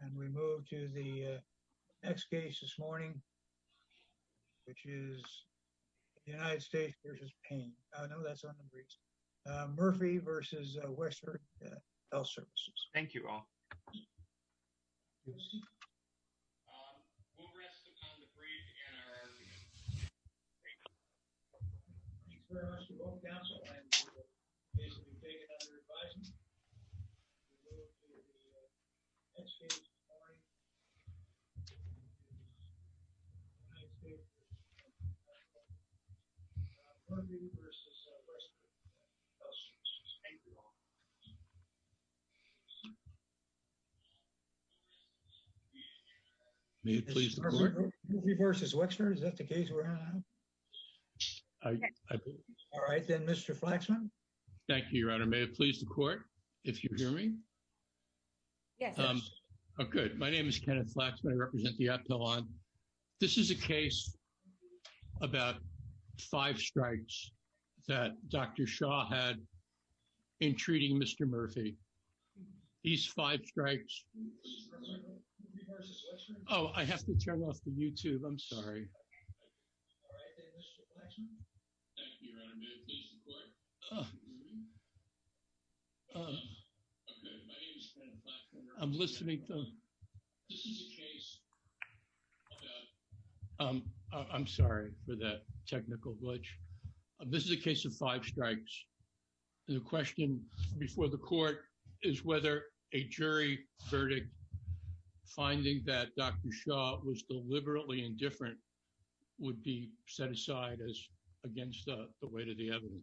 And we move to the next case this morning, which is the United States v. Payne. I know that's on the briefs. Murphy v. Wexford Health Services. Thank you all. Thank you, Your Honor. Murphy v. Wexford. Is that the case we're on? All right, then, Mr. Flaxman. Thank you, Your Honor. May it please the court if you hear me? Yes. Oh, good. My name is Kenneth Flaxman. I represent the Aptalon. This is a case about five strikes that Dr. Shah had in treating Mr. Murphy. These five strikes. Oh, I have to turn off the YouTube. I'm sorry. All right, then, Mr. Flaxman. Thank you, Your Honor. May it please the court if you hear me? Oh, good. My name is Kenneth Flaxman. I represent the Aptalon. I'm listening to. This is a case about. I'm sorry for that technical glitch. This is a case of five strikes. The question before the court is whether a jury verdict finding that Dr. Shah was deliberately indifferent would be set aside as against the weight of the evidence.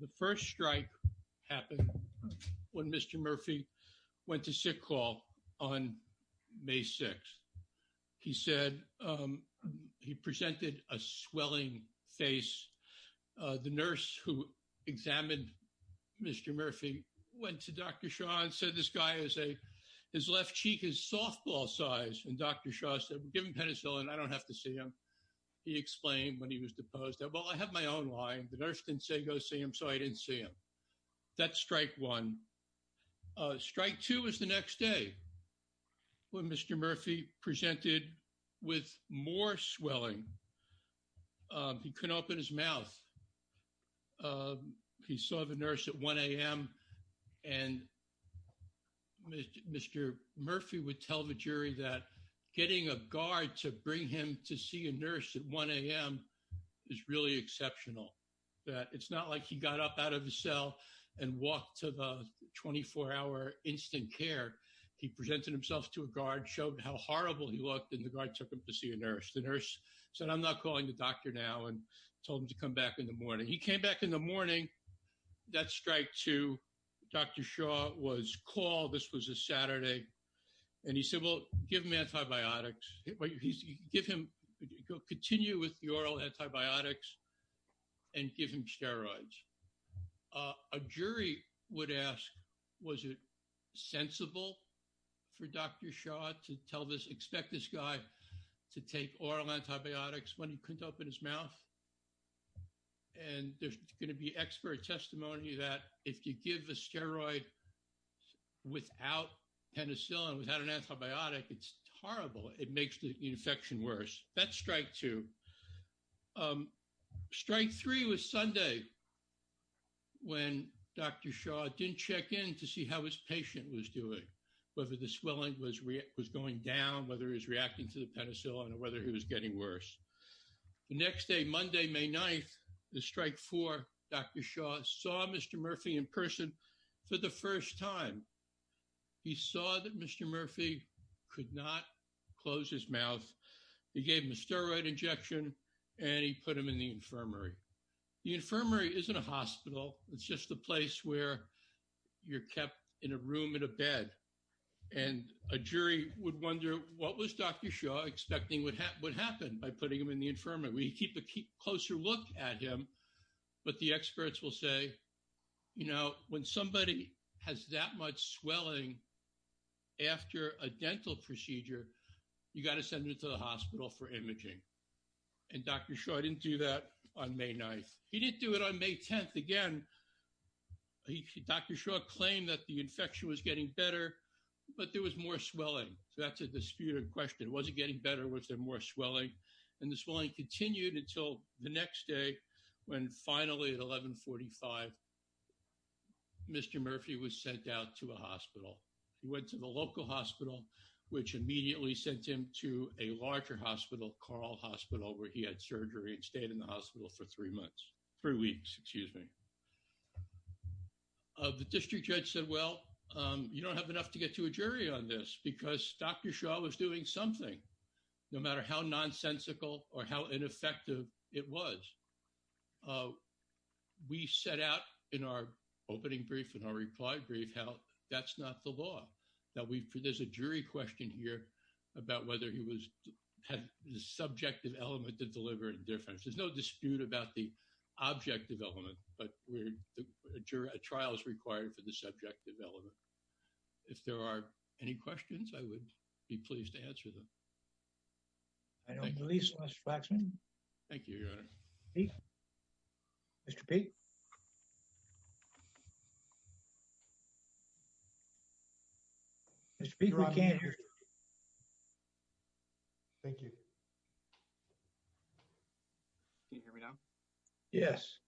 The first strike happened when Mr. Murphy went to sick call on May 6th. He said he presented a swelling face. The nurse who examined Mr. Murphy went to Dr. Shah and said this guy is a his left cheek is softball size. And Dr. Shah said, give him penicillin. I don't have to see him. He explained when he was deposed that, well, I have my own line. The nurse didn't say go see him. So I didn't see him. That's strike one. Strike two is the next day when Mr. Murphy presented with more swelling. He couldn't open his mouth. He saw the nurse at 1 a.m. And Mr. Murphy would tell the jury that getting a guard to bring him to see a nurse at 1 a.m. is really exceptional. It's not like he got up out of the cell and walked to the 24-hour instant care. He presented himself to a guard, showed how horrible he looked, and the guard took him to see a nurse. The nurse said, I'm not calling the doctor now and told him to come back in the morning. He came back in the morning. That's strike two. Dr. Shah was called. This was a Saturday. And he said, well, give him antibiotics. Give him, continue with the oral antibiotics and give him steroids. A jury would ask, was it sensible for Dr. Shah to tell this, expect this to take oral antibiotics when he couldn't open his mouth? And there's going to be expert testimony that if you give a steroid without penicillin, without an antibiotic, it's horrible. It makes the infection worse. That's strike two. Strike three was Sunday when Dr. Shah didn't check in to see how his patient was doing, whether the swelling was going down, whether he was reacting to the penicillin or whether he was getting worse. The next day, Monday, May 9th, the strike four, Dr. Shah saw Mr. Murphy in person for the first time. He saw that Mr. Murphy could not close his mouth. He gave him a steroid injection and he put him in the infirmary. The infirmary isn't a hospital. It's just a place where you're kept in a room in a bed. And a jury would wonder, what was Dr. Shah expecting would happen by putting him in the infirmary? We keep a closer look at him, but the experts will say, you know, when somebody has that much swelling after a dental procedure, you got to send it to the hospital for imaging. And Dr. Shah didn't do that on May 9th. He didn't do it on May 10th. Again, Dr. Shah claimed that the infection was getting better, but there was more swelling. So that's a disputed question. Was it getting better? Was there more swelling? And the swelling continued until the next day when finally at 1145, Mr. Murphy was sent out to a hospital. He went to the local hospital, which immediately sent him to a larger hospital, Carl Hospital, where he had surgery and stayed in the hospital for three months, three weeks, excuse me. The district judge said, well, you don't have enough to get to a jury on this because Dr. Shah was doing something, no matter how nonsensical or how ineffective it was. We set out in our opening brief and our reply brief, how that's not the law. There's a jury question here about whether he had the subjective element to deliver indifference. There's no dispute about the objective element, but a trial is required for the subjective element. If there are any questions, I would be pleased to answer them. I don't believe so, Mr. Waxman. Thank you, Your Honor. Mr. Peek? Mr. Peek, we can't hear you. Thank you. Can you hear me now? Yes.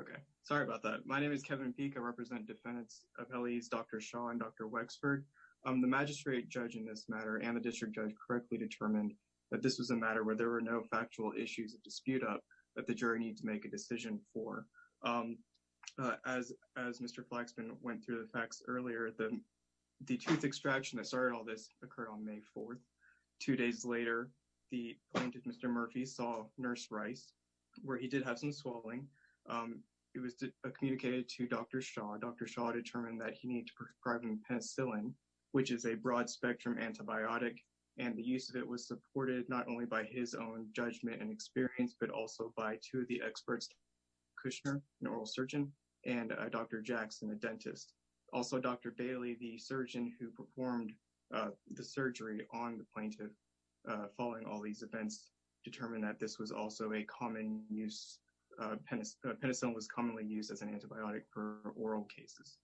Okay. Sorry about that. My name is Kevin Peek. I represent defendants of L.E.'s Dr. Shah and Dr. Wexford. The magistrate judge in this matter and the district judge correctly determined that this was a matter where there were no factual issues of dispute up that the jury needs to make a decision for. As Mr. Flaxman went through the facts earlier, the tooth extraction that started all this occurred on May 4th. Two days later, the plaintiff, Mr. Murphy, saw Nurse Rice, where he did have some swelling. It was communicated to Dr. Shah. Dr. Shah determined that he needed to prescribe him penicillin, which is a broad-spectrum antibiotic, and the use of it was supported not only by his own judgment and experience, but also by two of the experts, Kushner, an oral surgeon, and Dr. Jackson, a dentist. Also, Dr. Bailey, the surgeon who performed the surgery on the plaintiff following all these events, determined that this was also a common use. Penicillin was commonly used as an antibiotic for oral cases.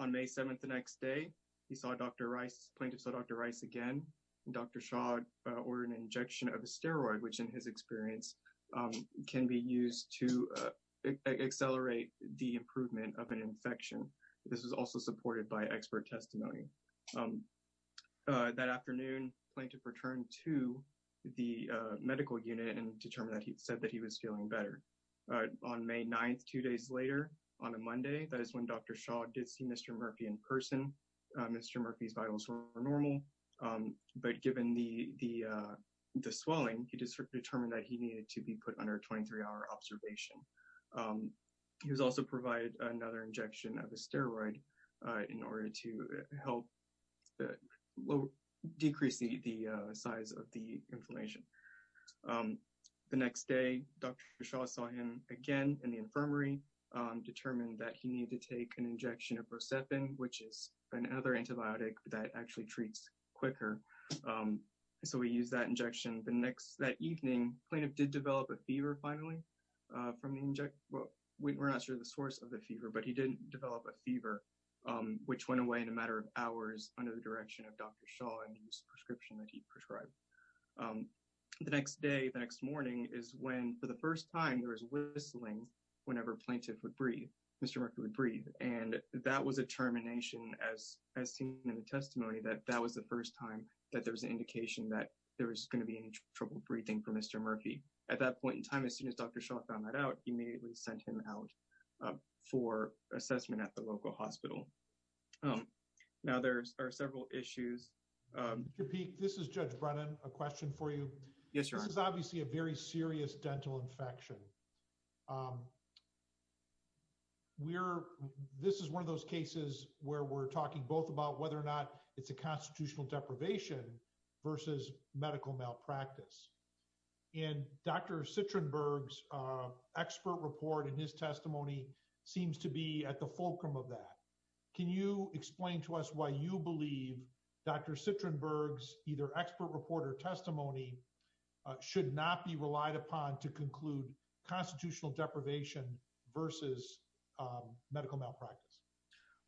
On May 7th, the next day, the plaintiff saw Dr. Rice again. Dr. Shah ordered an injection of a steroid, which in his experience can be used to accelerate the improvement of an infection. This was also supported by expert testimony. That afternoon, the plaintiff returned to the medical unit and determined that he was feeling better. On May 9th, two days later, on a Monday, that is when Dr. Shah did see Mr. Murphy in person. Mr. Murphy's vitals were normal, but given the swelling, he determined that he needed to be put under a 23-hour observation. He was also provided another injection of a steroid in order to help decrease the size of the inflammation. The next day, Dr. Shah saw him again in the infirmary, determined that he needed to take an injection of rocepin, which is another antibiotic that actually treats quicker. So, he used that injection. That evening, the plaintiff did not develop a fever, which went away in a matter of hours under the direction of Dr. Shah and his prescription that he prescribed. The next day, the next morning is when, for the first time, there was whistling whenever Mr. Murphy would breathe. That was a termination, as seen in the testimony, that that was the first time that there was an indication that there was going to be any trouble breathing for Mr. Murphy. At that point in time, as soon as Dr. Shah found that out, he immediately sent him out for assessment at the local hospital. Now, there are several issues. Mr. Peek, this is Judge Brennan. A question for you. Yes, Your Honor. This is obviously a very serious dental infection. This is one of those cases where we're talking both about whether or not it's a constitutional deprivation versus medical malpractice. And Dr. Citrenberg's expert report in his testimony seems to be at the fulcrum of that. Can you explain to us why you believe Dr. Citrenberg's either expert report or testimony should not be relied upon to conclude constitutional deprivation versus medical malpractice?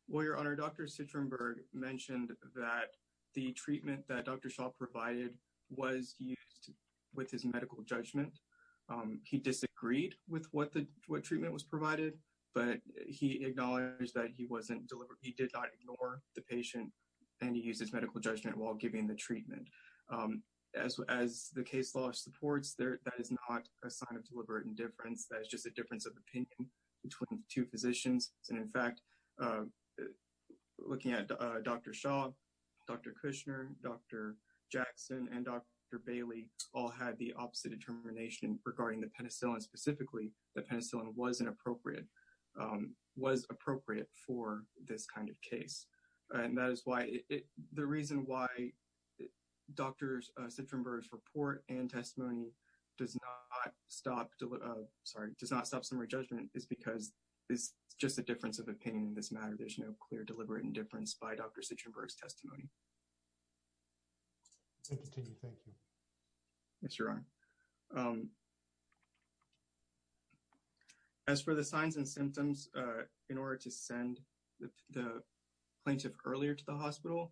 Well, Your Honor, Dr. Citrenberg mentioned that the treatment that Dr. Shah provided was used with his medical judgment. He disagreed with what treatment was provided, but he acknowledged that he did not ignore the patient and he used his medical judgment while giving the treatment. As the case law supports, that is not a sign of deliberate indifference. That is just a difference of opinion between the two physicians. And in fact, looking at Dr. Shah, Dr. Kushner, Dr. Jackson, and Dr. Bailey all had the opposite determination regarding the penicillin. Specifically, the penicillin was inappropriate for this kind of case. And that is why the reason why Dr. Citrenberg's report and testimony does not stop does not stop summary judgment is because it's just a difference of opinion in this matter. There's no clear deliberate indifference by Dr. Citrenberg's testimony. I continue. Thank you. Yes, Your Honor. As for the signs and symptoms, in order to send the plaintiff earlier to the hospital,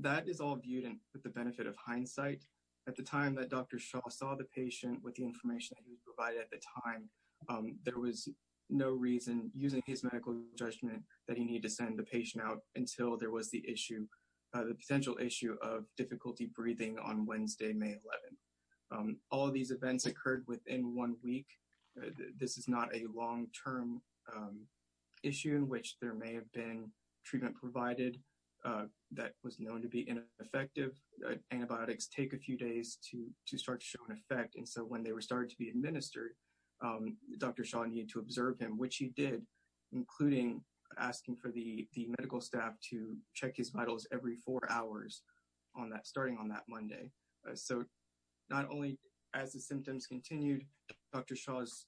that is all viewed with the benefit of hindsight. At the time that Dr. Shah saw the information that he was provided at the time, there was no reason using his medical judgment that he needed to send the patient out until there was the issue, the potential issue of difficulty breathing on Wednesday, May 11. All of these events occurred within one week. This is not a long-term issue in which there may have been treatment provided that was known to be effective. Antibiotics take a few days to start to show an effect. And so, when they were starting to be administered, Dr. Shah needed to observe him, which he did, including asking for the medical staff to check his vitals every four hours on that, starting on that Monday. So, not only as the symptoms continued, Dr. Shah's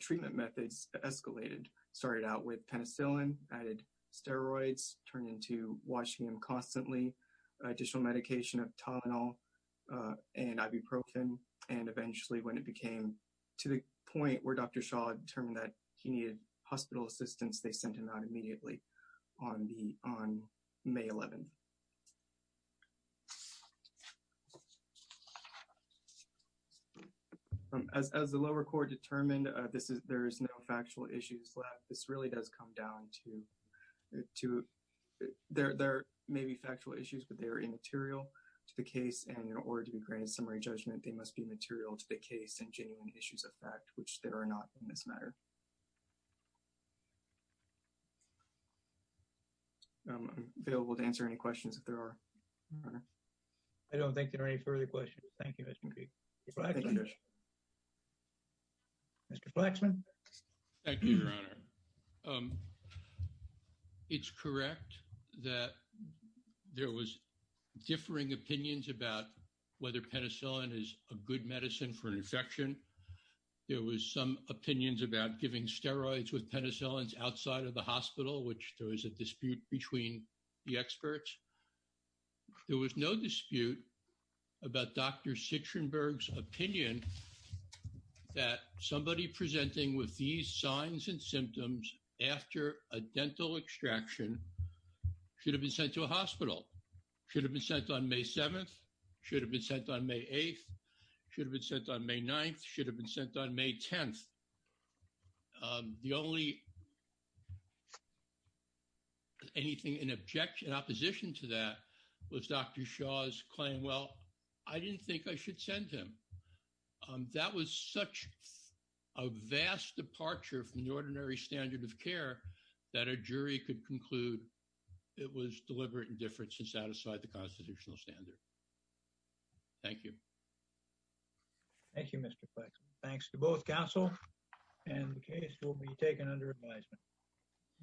treatment methods escalated, started out with penicillin, added steroids, turned into washing him constantly, additional medication of Tylenol and ibuprofen. And eventually, when it became to the point where Dr. Shah determined that he needed hospital assistance, they sent him out immediately on May 11. As the lower court determined, there is no factual issues left. This really does come down to there may be factual issues, but they are immaterial to the case. And in order to be granted summary judgment, they must be material to the case and genuine issues of fact, which there are not in this matter. I'm available to answer any questions. If there are. I don't think there are any further questions. Thank you. Mr. Flaxman. Thank you, Your Honor. It's correct that there was differing opinions about whether penicillin is a good medicine for an infection. There was some opinions about giving steroids with penicillins outside of the hospital, which there was a dispute between the experts. There was no dispute about Dr. Citrenberg's opinion that somebody presenting with these signs and symptoms after a dental extraction should have been sent to a hospital, should have been sent on May 7th, should have been sent on May 8th, should have been sent on May 9th, should have been sent on May 10th. The only anything in objection, in opposition to that was Dr. Shaw's claim. Well, I didn't think I should send him. That was such a vast departure from the ordinary standard of care that a jury could conclude it was deliberate indifference to satisfy the constitutional standard. Thank you. Thank you, Mr. Flaxman. Thanks to both counsel and the case will be taken under advisement.